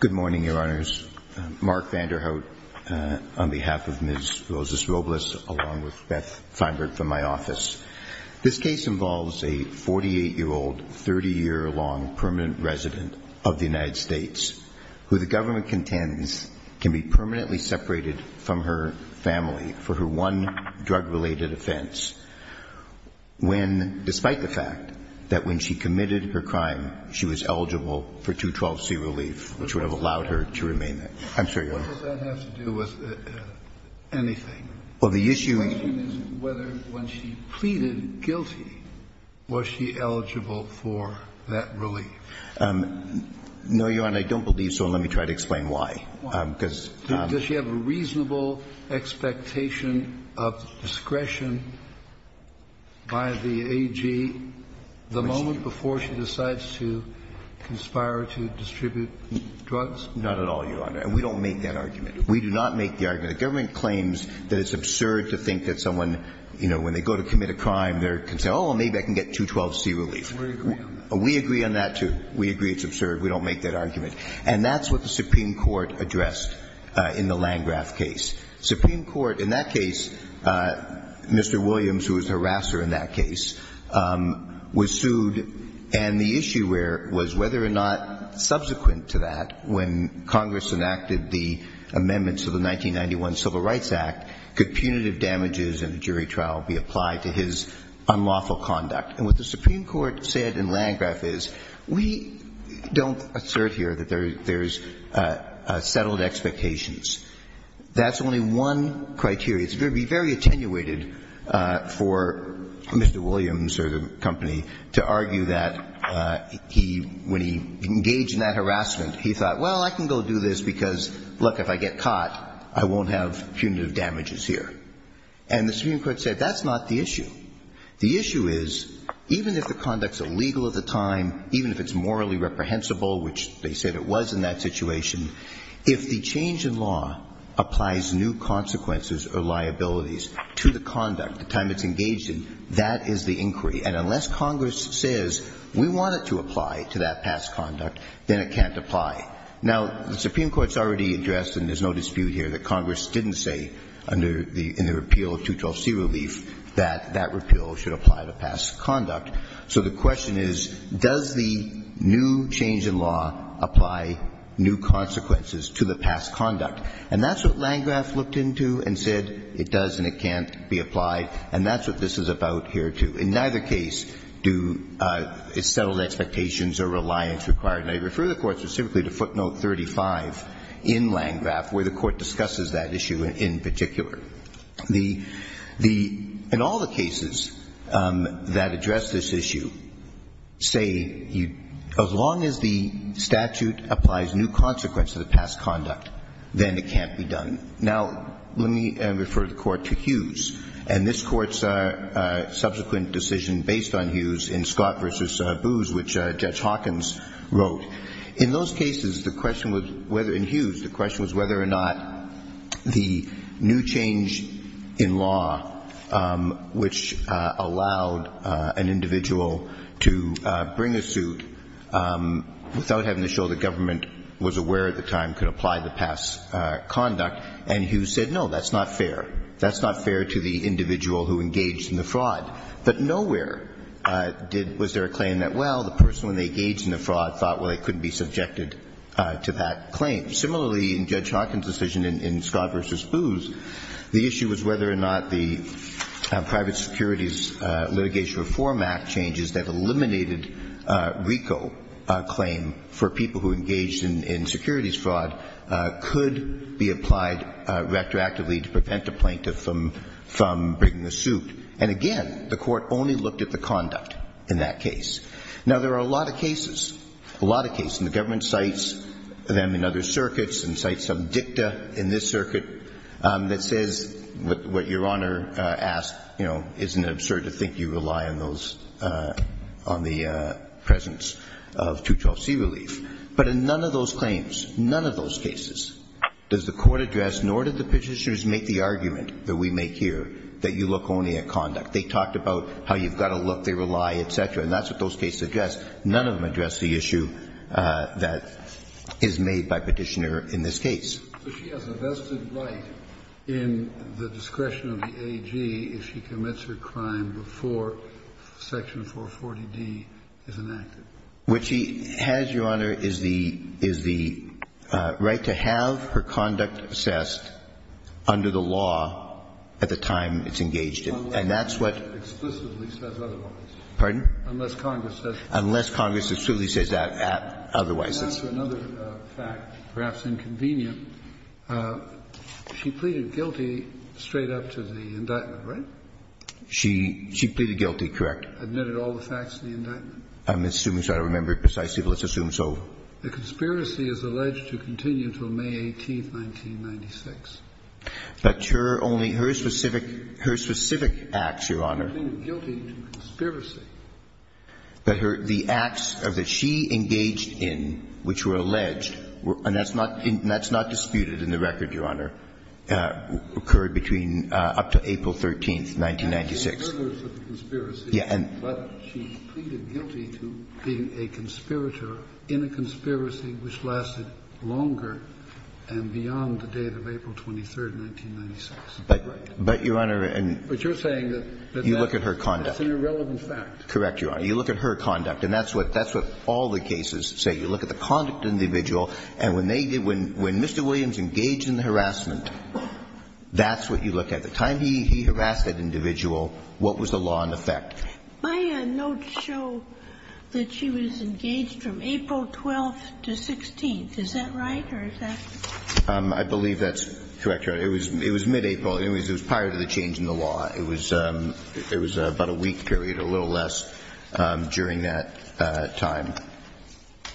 Good morning, Your Honors. Mark Vanderhout on behalf of Ms. Rosa-Robles along with Beth Feinberg from my office. This case involves a 48-year-old, 30-year-long permanent resident of the United States who the government contends can be permanently separated from her family for her one drug-related offense when, despite the fact that when she committed her crime, she was eligible for 212C relief, which would have allowed her to remain there. I'm sorry, Your Honor. Kennedy What does that have to do with anything? Verrilli, Jr. Well, the issue is whether when she pleaded guilty, was she eligible for that relief. Verrilli, Jr. No, Your Honor, I don't believe so, and let me try to explain why. Kennedy Does she have a reasonable expectation of discretion by the AG the moment before she decides to conspire to distribute drugs? Verrilli, Jr. Not at all, Your Honor, and we don't make that argument. We do not make the argument. The government claims that it's absurd to think that someone, you know, when they go to commit a crime, they're concerned, oh, maybe I can get 212C relief. Kennedy We agree on that. Verrilli, Jr. We agree on that, too. We agree it's absurd. We don't make that argument. And that's what the Supreme Court addressed in the Landgraf case. Supreme Court, in that case, Mr. Williams, who was the harasser in that case, was sued, and the issue was whether or not subsequent to that, when Congress enacted the amendments to the 1991 Civil Rights Act, could punitive damages in a jury trial be applied to his unlawful conduct. And what the Supreme Court said in Landgraf is, we don't assert here that there's settled expectations. That's only one criteria. It would be very attenuated for Mr. Williams or the company to argue that he, when he engaged in that harassment, he thought, well, I can go do this because, look, if I get caught, I won't have punitive damages here. And the Supreme Court said that's not the issue. The issue is, even if the conduct's illegal at the time, even if it's morally reprehensible, which they said it was in that situation, if the change in law applies new consequences or liabilities to the conduct, the time it's engaged in, that is the inquiry. And unless Congress says, we want it to apply to that past conduct, then it can't apply. Now, the Supreme Court's already addressed, and there's no dispute here, that repeal should apply to past conduct. So the question is, does the new change in law apply new consequences to the past conduct? And that's what Landgraf looked into and said it does and it can't be applied. And that's what this is about here, too. In neither case do settled expectations or reliance required. And I refer the Court specifically to footnote 35 in Landgraf, where the Court discusses that issue in particular. In all the cases that address this issue, say, as long as the statute applies new consequences to the past conduct, then it can't be done. Now, let me refer the Court to Hughes. And this Court's subsequent decision based on Hughes in Scott v. Booz, which Judge Hawkins wrote. In those cases, the question was whether, in Hughes, the question was whether or not the new change in law, which allowed an individual to bring a suit without having to show that government was aware at the time could apply the past conduct. And Hughes said, no, that's not fair. That's not fair to the individual who engaged in the fraud. But nowhere was there a claim that, well, the person, when they engaged in the fraud, thought, well, they couldn't be subjected to that claim. Similarly, in Judge Hawkins' decision in Scott v. Booz, the issue was whether or not the private securities litigation reform act changes that eliminated RICO claim for people who engaged in securities fraud could be applied retroactively to prevent a plaintiff from bringing a suit. And, again, the Court only looked at the conduct in that case. Now, there are a lot of cases, a lot of cases, and the government cites them in other circuits and cites some dicta in this circuit that says what Your Honor asked, you know, isn't it absurd to think you rely on those, on the presence of 212C relief? But in none of those claims, none of those cases does the Court address, nor did the petitioners make the argument that we make here, that you look only at conduct. They talked about how you've got to look, they rely, et cetera. And that's what those cases address. None of them address the issue that is made by Petitioner in this case. So she has a vested right in the discretion of the AG if she commits her crime before Section 440D is enacted. What she has, Your Honor, is the right to have her conduct assessed under the law at the time it's engaged in. Unless Congress explicitly says otherwise. Unless Congress says that. Unless Congress explicitly says that, otherwise. To answer another fact, perhaps inconvenient, she pleaded guilty straight up to the indictment, right? She pleaded guilty, correct. Admitted all the facts of the indictment. I'm assuming so. I don't remember precisely, but let's assume so. The conspiracy is alleged to continue until May 18th, 1996. But her only her specific, her specific acts, Your Honor. She pleaded guilty to conspiracy. But her acts that she engaged in, which were alleged, and that's not disputed in the record, Your Honor, occurred between up to April 13th, 1996. Yeah. But she pleaded guilty to being a conspirator in a conspiracy which lasted longer and beyond the date of April 23rd, 1996. But, Your Honor. But you're saying that that's an irrelevant fact. You look at her conduct. Correct, Your Honor. You look at her conduct. And that's what all the cases say. You look at the conduct of the individual, and when Mr. Williams engaged in the harassment, that's what you look at. The time he harassed that individual, what was the law in effect? My notes show that she was engaged from April 12th to 16th. Is that right, or is that? I believe that's correct, Your Honor. It was mid-April. It was prior to the change in the law. It was about a week period, a little less, during that time.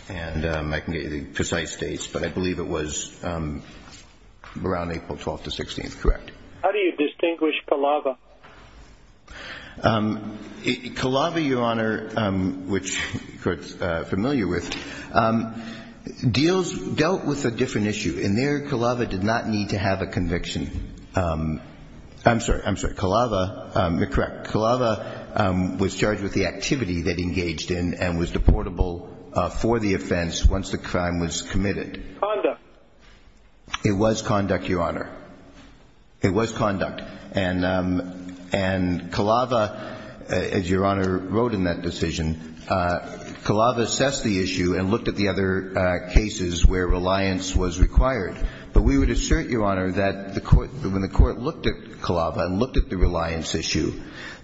And I can get you the precise dates, but I believe it was around April 12th to 16th. Correct. How do you distinguish Calava? Calava, Your Honor, which the Court's familiar with, dealt with a different issue. In there, Calava did not need to have a conviction. I'm sorry. I'm sorry. Calava, you're correct. Calava was charged with the activity that engaged in and was deportable for the offense once the crime was committed. Conduct. It was conduct, Your Honor. It was conduct. And we would assert, Your Honor, that when the Court looked at Calava and looked at the reliance issue,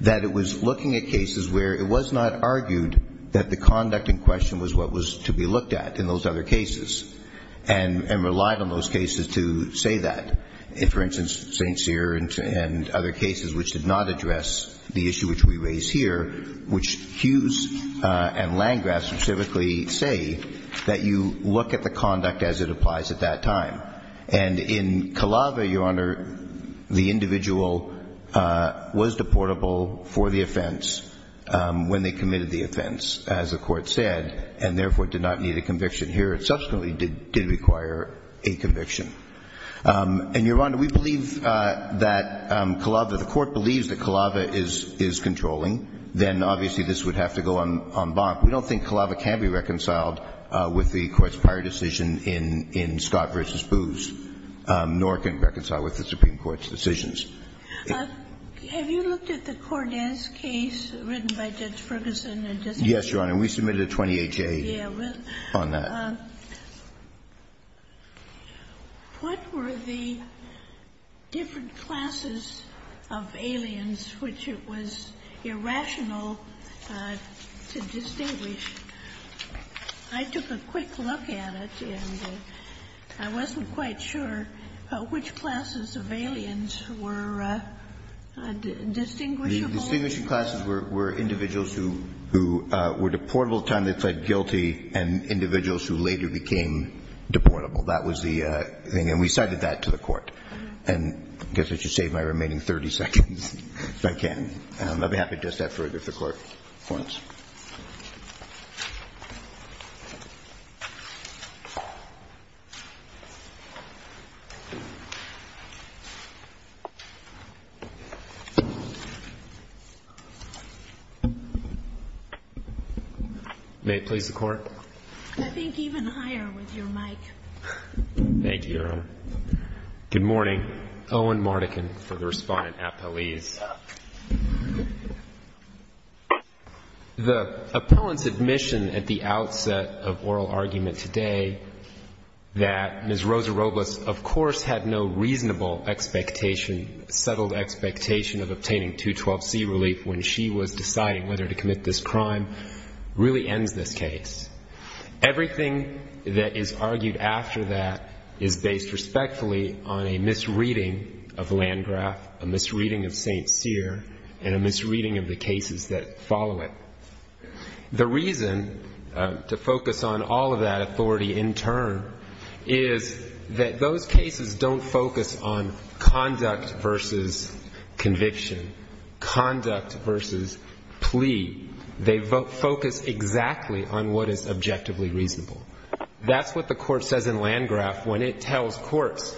that it was looking at cases where it was not argued that the conduct in question was what was to be looked at in those other cases and relied on those cases to say that. For instance, St. Cyr and other cases which did not address the issue which we raise here, which Hughes and Landgraf specifically say that you look at the conduct as it applies at that time. And in Calava, Your Honor, the individual was deportable for the offense when they committed the offense, as the Court said, and therefore did not need a conviction. Here it subsequently did require a conviction. And, Your Honor, we believe that Calava, the Court believes that Calava is controlling. Then, obviously, this would have to go en banc. We don't think Calava can be reconciled with the Court's prior decision in Scott v. Booz, nor can it reconcile with the Supreme Court's decisions. Have you looked at the Cordes case written by Judge Ferguson? Yes, Your Honor. We submitted a 28-J on that. What were the different classes of aliens which it was irrational to distinguish? I took a quick look at it, and I wasn't quite sure which classes of aliens were distinguishable. The distinguishing classes were individuals who were deportable at the time they pled guilty and individuals who later became deportable. That was the thing. And we cited that to the Court. And I guess I should save my remaining 30 seconds if I can. May it please the Court? I think even higher with your mic. Good morning. Owen Mardikin for the Respondent at Police. The appellant's admission at the outset of oral argument today that Ms. Rosa Robles, of course, had no reasonable expectation, settled expectation of obtaining 212C relief when she was deciding whether to commit this crime really ends this case. Everything that is argued after that is based respectfully on a misreading of Landgraf, a misreading of St. Cyr, and a misreading of the cases that follow it. The reason to focus on all of that authority in turn is that those cases don't focus on conduct versus conviction, conduct versus plea. They focus exactly on what is objectively reasonable. That's what the Court says in Landgraf when it tells courts.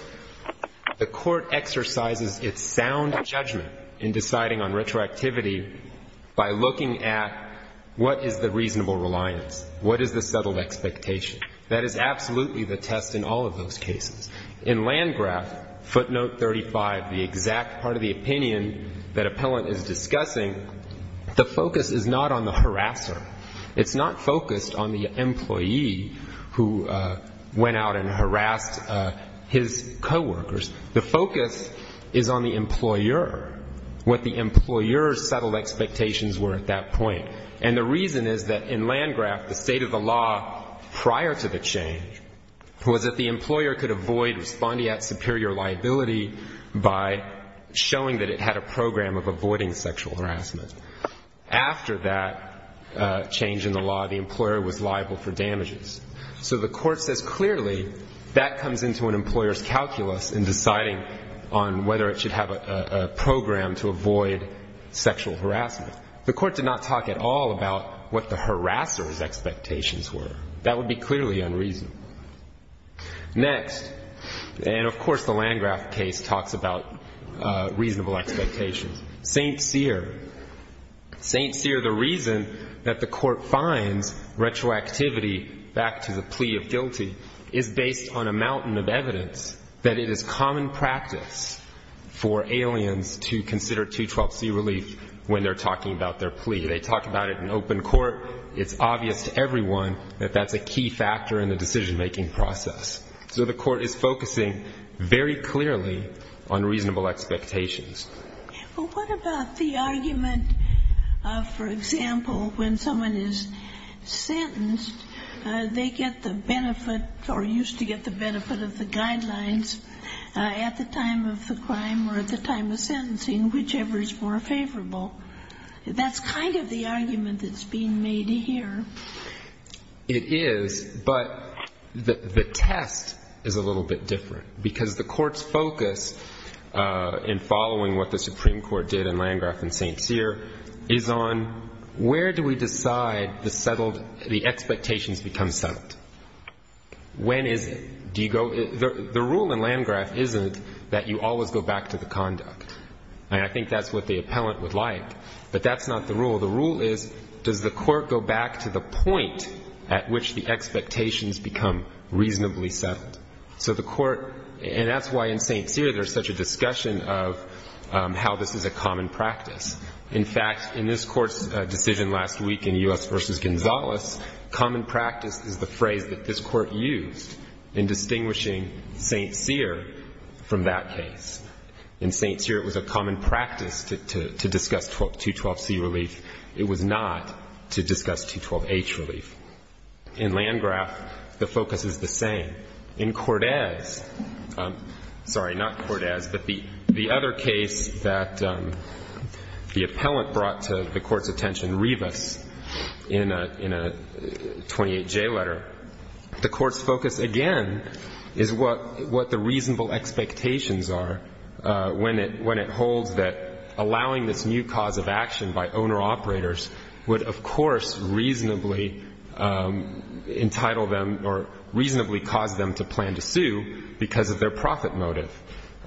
The Court exercises its sound judgment in deciding on retroactivity by looking at what is the reasonable reliance, what is the settled expectation. That is absolutely the test in all of those cases. In Landgraf, footnote 35, the exact part of the opinion that appellant is discussing, the focus is not on the harasser. It's not focused on the employee who went out and harassed his coworkers. The focus is on the employer, what the employer's settled expectations were at that point. And the reason is that in Landgraf, the state of the law prior to the change was that the employer could avoid responding at superior liability by showing that it had a program of avoiding sexual harassment. After that change in the law, the employer was liable for damages. So the Court says clearly that comes into an employer's calculus in deciding on whether it should have a program to avoid sexual harassment. The Court did not talk at all about what the harasser's expectations were. That would be clearly unreasonable. Next, and of course the Landgraf case talks about reasonable expectations. St. Cyr. St. Cyr, the reason that the Court finds retroactivity back to the plea of guilty, is based on a mountain of evidence that it is common practice for aliens to consider 212c relief when they're talking about their plea. They talk about it in open court. It's obvious to everyone that that's a key factor in the decision-making process. So the Court is focusing very clearly on reasonable expectations. Well, what about the argument, for example, when someone is sentenced, they get the benefit or used to get the benefit of the guidelines at the time of the crime or at the time of sentencing, whichever is more favorable. That's kind of the argument that's being made here. It is, but the test is a little bit different, because the Court's focus in following what the Supreme Court did in Landgraf and St. Cyr is on where do we decide the expectations become settled. When is it? The rule in Landgraf isn't that you always go back to the conduct. I think that's what the appellant would like, but that's not the rule. The rule is does the Court go back to the point at which the expectations become reasonably settled. So the Court, and that's why in St. Cyr there's such a discussion of how this is a common practice. In fact, in this Court's decision last week in U.S. v. Gonzales, common practice is the phrase that this Court used in distinguishing St. Cyr from that case. In St. Cyr it was a common practice to discuss 212C relief. It was not to discuss 212H relief. In Landgraf, the focus is the same. In Cordes, sorry, not Cordes, but the other case that the appellant brought to the Court's attention, in a 28J letter. The Court's focus, again, is what the reasonable expectations are when it holds that allowing this new cause of action by owner-operators would, of course, reasonably entitle them or reasonably cause them to plan to sue because of their profit motive.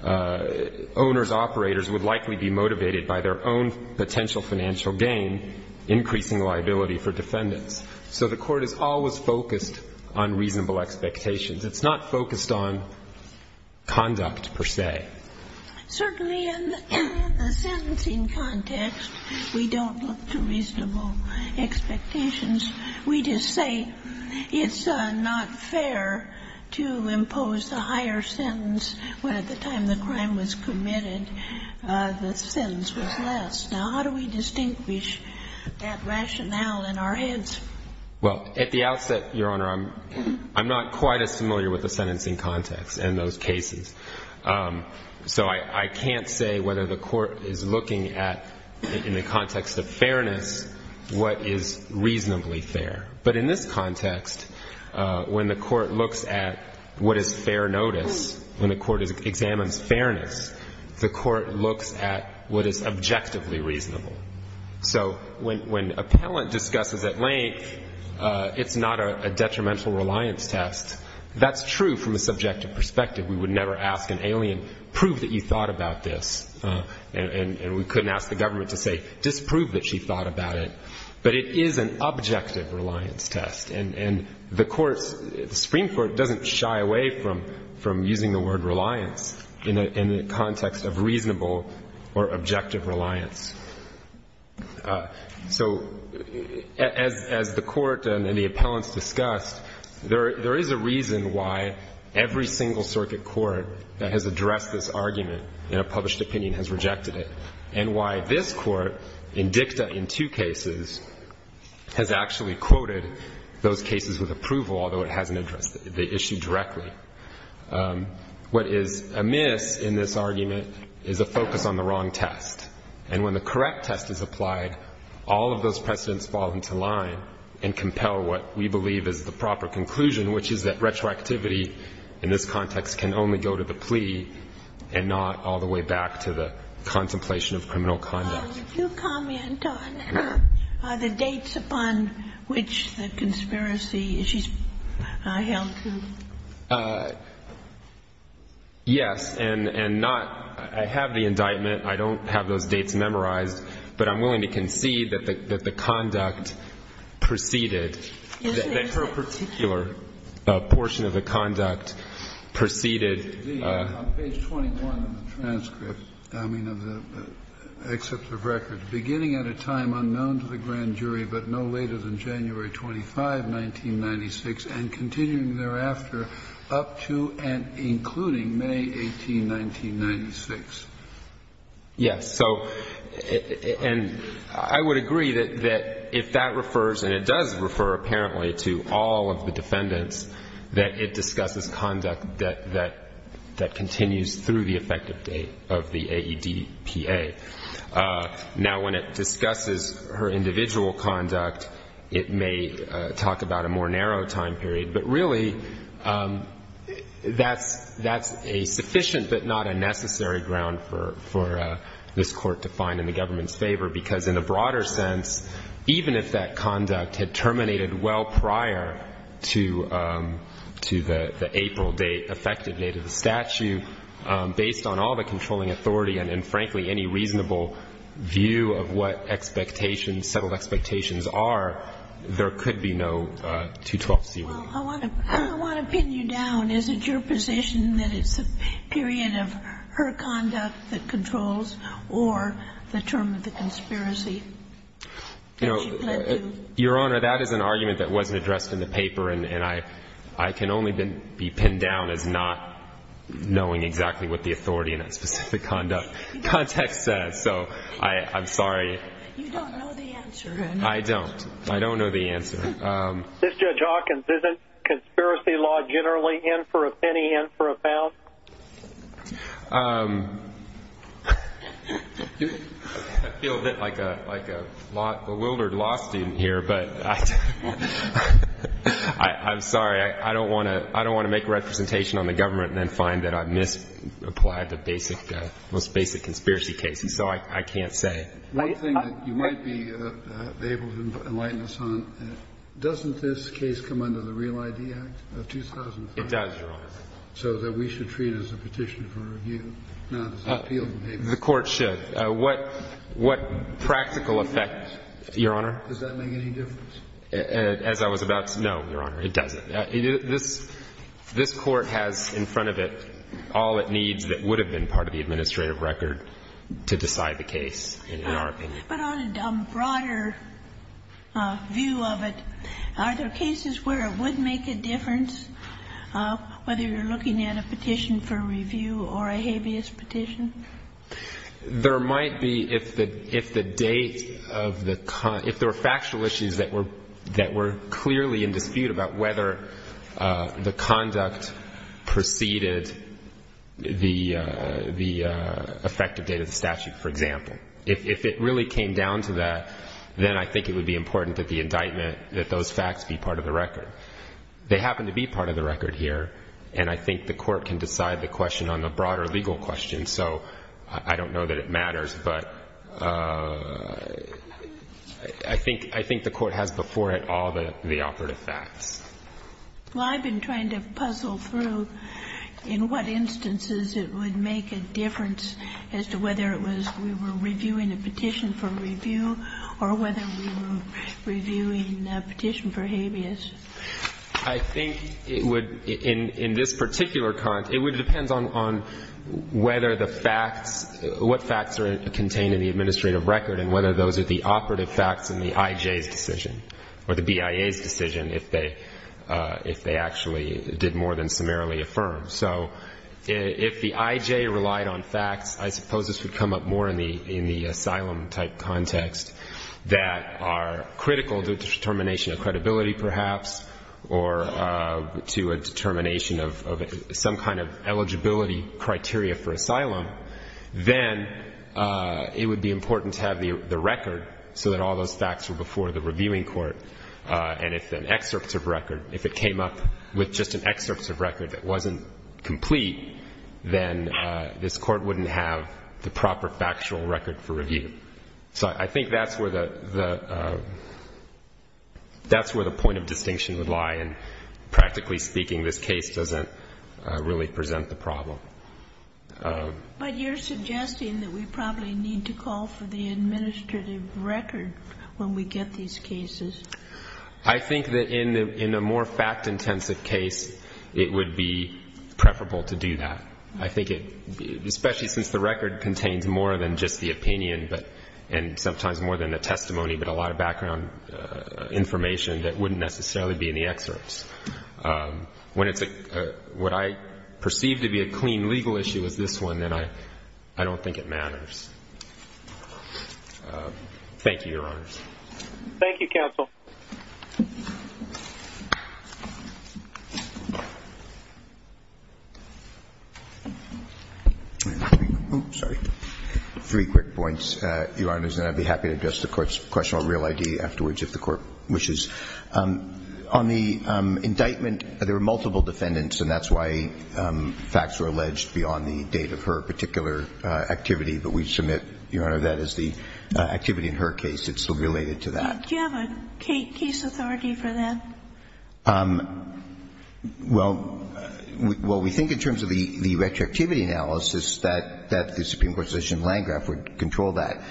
Owners-operators would likely be motivated by their own potential financial gain, increasing liability for defendants. So the Court is always focused on reasonable expectations. It's not focused on conduct, per se. Certainly in the sentencing context, we don't look to reasonable expectations. We just say it's not fair to impose a higher sentence when at the time the crime was committed the sentence was less. Now, how do we distinguish that rationale in our heads? Well, at the outset, Your Honor, I'm not quite as familiar with the sentencing context in those cases. So I can't say whether the Court is looking at, in the context of fairness, what is reasonably fair. But in this context, when the Court looks at what is fair notice, when the Court examines fairness, the Court looks at what is objectively reasonable. So when appellant discusses at length, it's not a detrimental reliance test. That's true from a subjective perspective. We would never ask an alien, prove that you thought about this. And we couldn't ask the government to say, disprove that she thought about it. But it is an objective reliance test. And the Supreme Court doesn't shy away from using the word reliance in the context of reasonable or objective reliance. So as the Court and the appellants discussed, there is a reason why every single circuit court that has addressed this argument in a published opinion has rejected it, and why this Court, in dicta in two cases, has actually quoted those cases with approval, although it hasn't addressed the issue directly. What is amiss in this argument is a focus on the wrong test. And when the correct test is applied, all of those precedents fall into line and compel what we believe is the proper conclusion, which is that retroactivity in this context can only go to the plea and not all the way back to the contemplation of criminal conduct. Ginsburg. Well, you do comment on the dates upon which the conspiracy is held to. Yes. And not – I have the indictment. I don't have those dates memorized. But I'm willing to concede that the conduct preceded that for a particular portion of the conduct preceded. On page 21 of the transcript, I mean of the excerpt of record, beginning at a time unknown to the grand jury but no later than January 25, 1996, and continuing thereafter up to and including May 18, 1996. Yes. So, and I would agree that if that refers, and it does refer apparently to all of the defendants, that it discusses conduct that continues through the effective date of the AEDPA. Now, when it discusses her individual conduct, it may talk about a more narrow time period. But really, that's a sufficient but not a necessary ground for this Court to find in the government's favor, because in a broader sense, even if that conduct had terminated well prior to the April date, effective date of the statute, based on all the controlling authority and, frankly, any reasonable view of what expectations, settled expectations are, there could be no 212C1. Well, I want to pin you down. Is it your position that it's a period of her conduct that controls or the term of the conspiracy? You know, Your Honor, that is an argument that wasn't addressed in the paper, and I can only be pinned down as not knowing exactly what the authority in that specific context says. So I'm sorry. You don't know the answer. I don't. I don't know the answer. Mr. Judge Hawkins, isn't conspiracy law generally in for a penny, in for a pound? I feel a bit like a bewildered law student here, but I'm sorry. I don't want to make a representation on the government and then find that I've misapplied the most basic conspiracy cases, so I can't say. One thing that you might be able to enlighten us on, doesn't this case come under the Real I.D. Act of 2005? It does, Your Honor. So that we should treat it as a petition for review, not as an appeal. The Court should. What practical effect, Your Honor? Does that make any difference? As I was about to know, Your Honor, it doesn't. This Court has in front of it all it needs that would have been part of the administrative record to decide the case, in our opinion. But on a broader view of it, are there cases where it would make a difference, whether you're looking at a petition for review or a habeas petition? There might be if the date of the con — if there were factual issues that were clearly in dispute about whether the conduct preceded the effective date of the statute, for example. If it really came down to that, then I think it would be important that the indictment, that those facts be part of the record. They happen to be part of the record here, and I think the Court can decide the question on the broader legal question, so I don't know that it matters. But I think the Court has before it all the operative facts. Well, I've been trying to puzzle through in what instances it would make a difference as to whether it was we were reviewing a petition for review or whether we were reviewing a petition for habeas. I think it would, in this particular context, it would depend on whether the facts, what facts are contained in the administrative record and whether those are the operative facts in the I.J.'s decision or the BIA's decision if they actually did more than summarily affirm. So if the I.J. relied on facts, I suppose this would come up more in the asylum-type context that are critical to the determination of credibility, perhaps, or to a determination of some kind of eligibility criteria for asylum, then it would be important to have the record so that all those facts were before the reviewing court. And if an excerpt of record, if it came up with just an excerpt of record that wasn't complete, then this Court wouldn't have the proper factual record for review. So I think that's where the point of distinction would lie. And practically speaking, this case doesn't really present the problem. But you're suggesting that we probably need to call for the administrative record when we get these cases. I think that in a more fact-intensive case, it would be preferable to do that. I think it, especially since the record contains more than just the opinion and sometimes more than the testimony but a lot of background information that wouldn't necessarily be in the excerpts. When it's what I perceive to be a clean legal issue is this one, then I don't think it matters. Thank you, Your Honors. Thank you, Counsel. Three quick points, Your Honors, and I'd be happy to address the question on Real ID afterwards if the Court wishes. On the indictment, there were multiple defendants, and that's why facts were alleged beyond the date of her particular activity. But we submit, Your Honor, that is the activity in her case. It's related to that. Do you have a case authority for that? Well, we think in terms of the retroactivity analysis that the Supreme Court's decision in Landgraf would control that.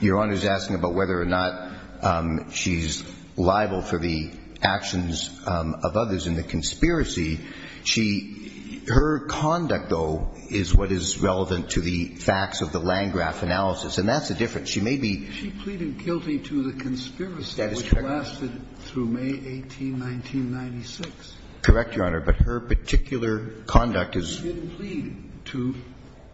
Your Honor is asking about whether or not she's liable for the actions of others in the conspiracy. She – her conduct, though, is what is relevant to the facts of the Landgraf analysis, and that's the difference. She may be – She pleaded guilty to the conspiracy which lasted through May 18, 1996. Correct, Your Honor, but her particular conduct is – She didn't plead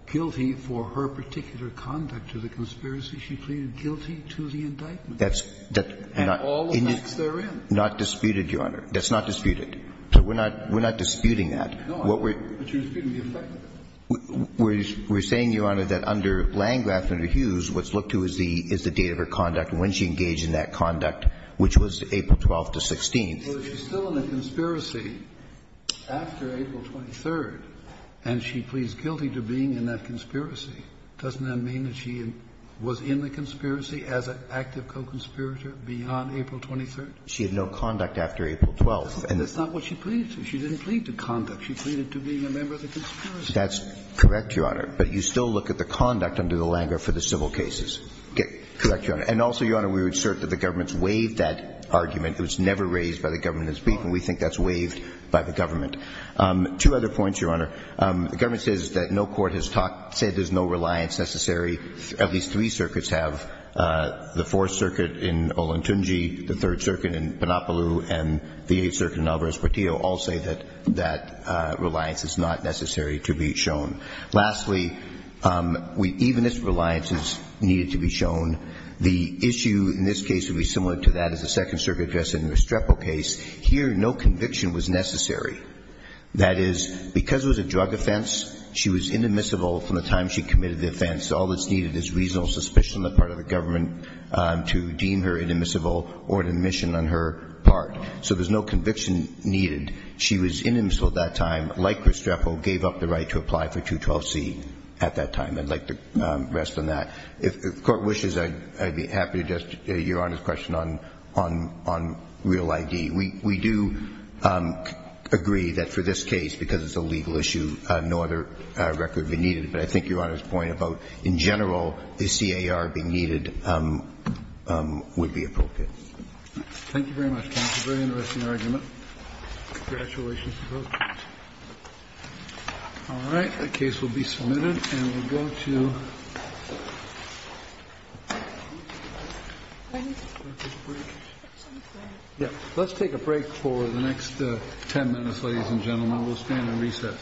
guilty for her particular conduct to the conspiracy. She pleaded guilty to the indictment. That's not – And all the facts therein. Not disputed, Your Honor. That's not disputed. So we're not – we're not disputing that. No, but you're disputing the effect of it. We're saying, Your Honor, that under Landgraf and under Hughes, what's looked to is the – is the date of her conduct and when she engaged in that conduct, which was April 12th to 16th. But if she's still in the conspiracy after April 23rd and she pleads guilty to being in that conspiracy, doesn't that mean that she was in the conspiracy as an active co-conspirator beyond April 23rd? She had no conduct after April 12th. That's not what she pleaded to. She pleaded to being a member of the conspiracy. That's correct, Your Honor. But you still look at the conduct under the Landgraf for the civil cases. Correct, Your Honor. And also, Your Honor, we would assert that the government's waived that argument. It was never raised by the government. It's beaten. We think that's waived by the government. Two other points, Your Honor. The government says that no court has talked – said there's no reliance necessary. At least three circuits have. The Fourth Circuit in Olentunji, the Third Circuit in Panopoulou, and the Eighth is not necessary to be shown. Lastly, even if reliance is needed to be shown, the issue in this case would be similar to that as the Second Circuit address in the Restrepo case. Here, no conviction was necessary. That is, because it was a drug offense, she was inadmissible from the time she committed the offense. All that's needed is reasonable suspicion on the part of the government to deem her inadmissible or an admission on her part. So there's no conviction needed. She was inadmissible at that time. Like Restrepo, gave up the right to apply for 212C at that time. I'd like to rest on that. If the Court wishes, I'd be happy to address Your Honor's question on real ID. We do agree that for this case, because it's a legal issue, no other record would be needed. But I think Your Honor's point about, in general, is CAR being needed would be appropriate. Thank you very much, counsel. Very interesting argument. Congratulations. All right. The case will be submitted. And we'll go to breakfast break. Let's take a break for the next 10 minutes, ladies and gentlemen. We'll stand at recess.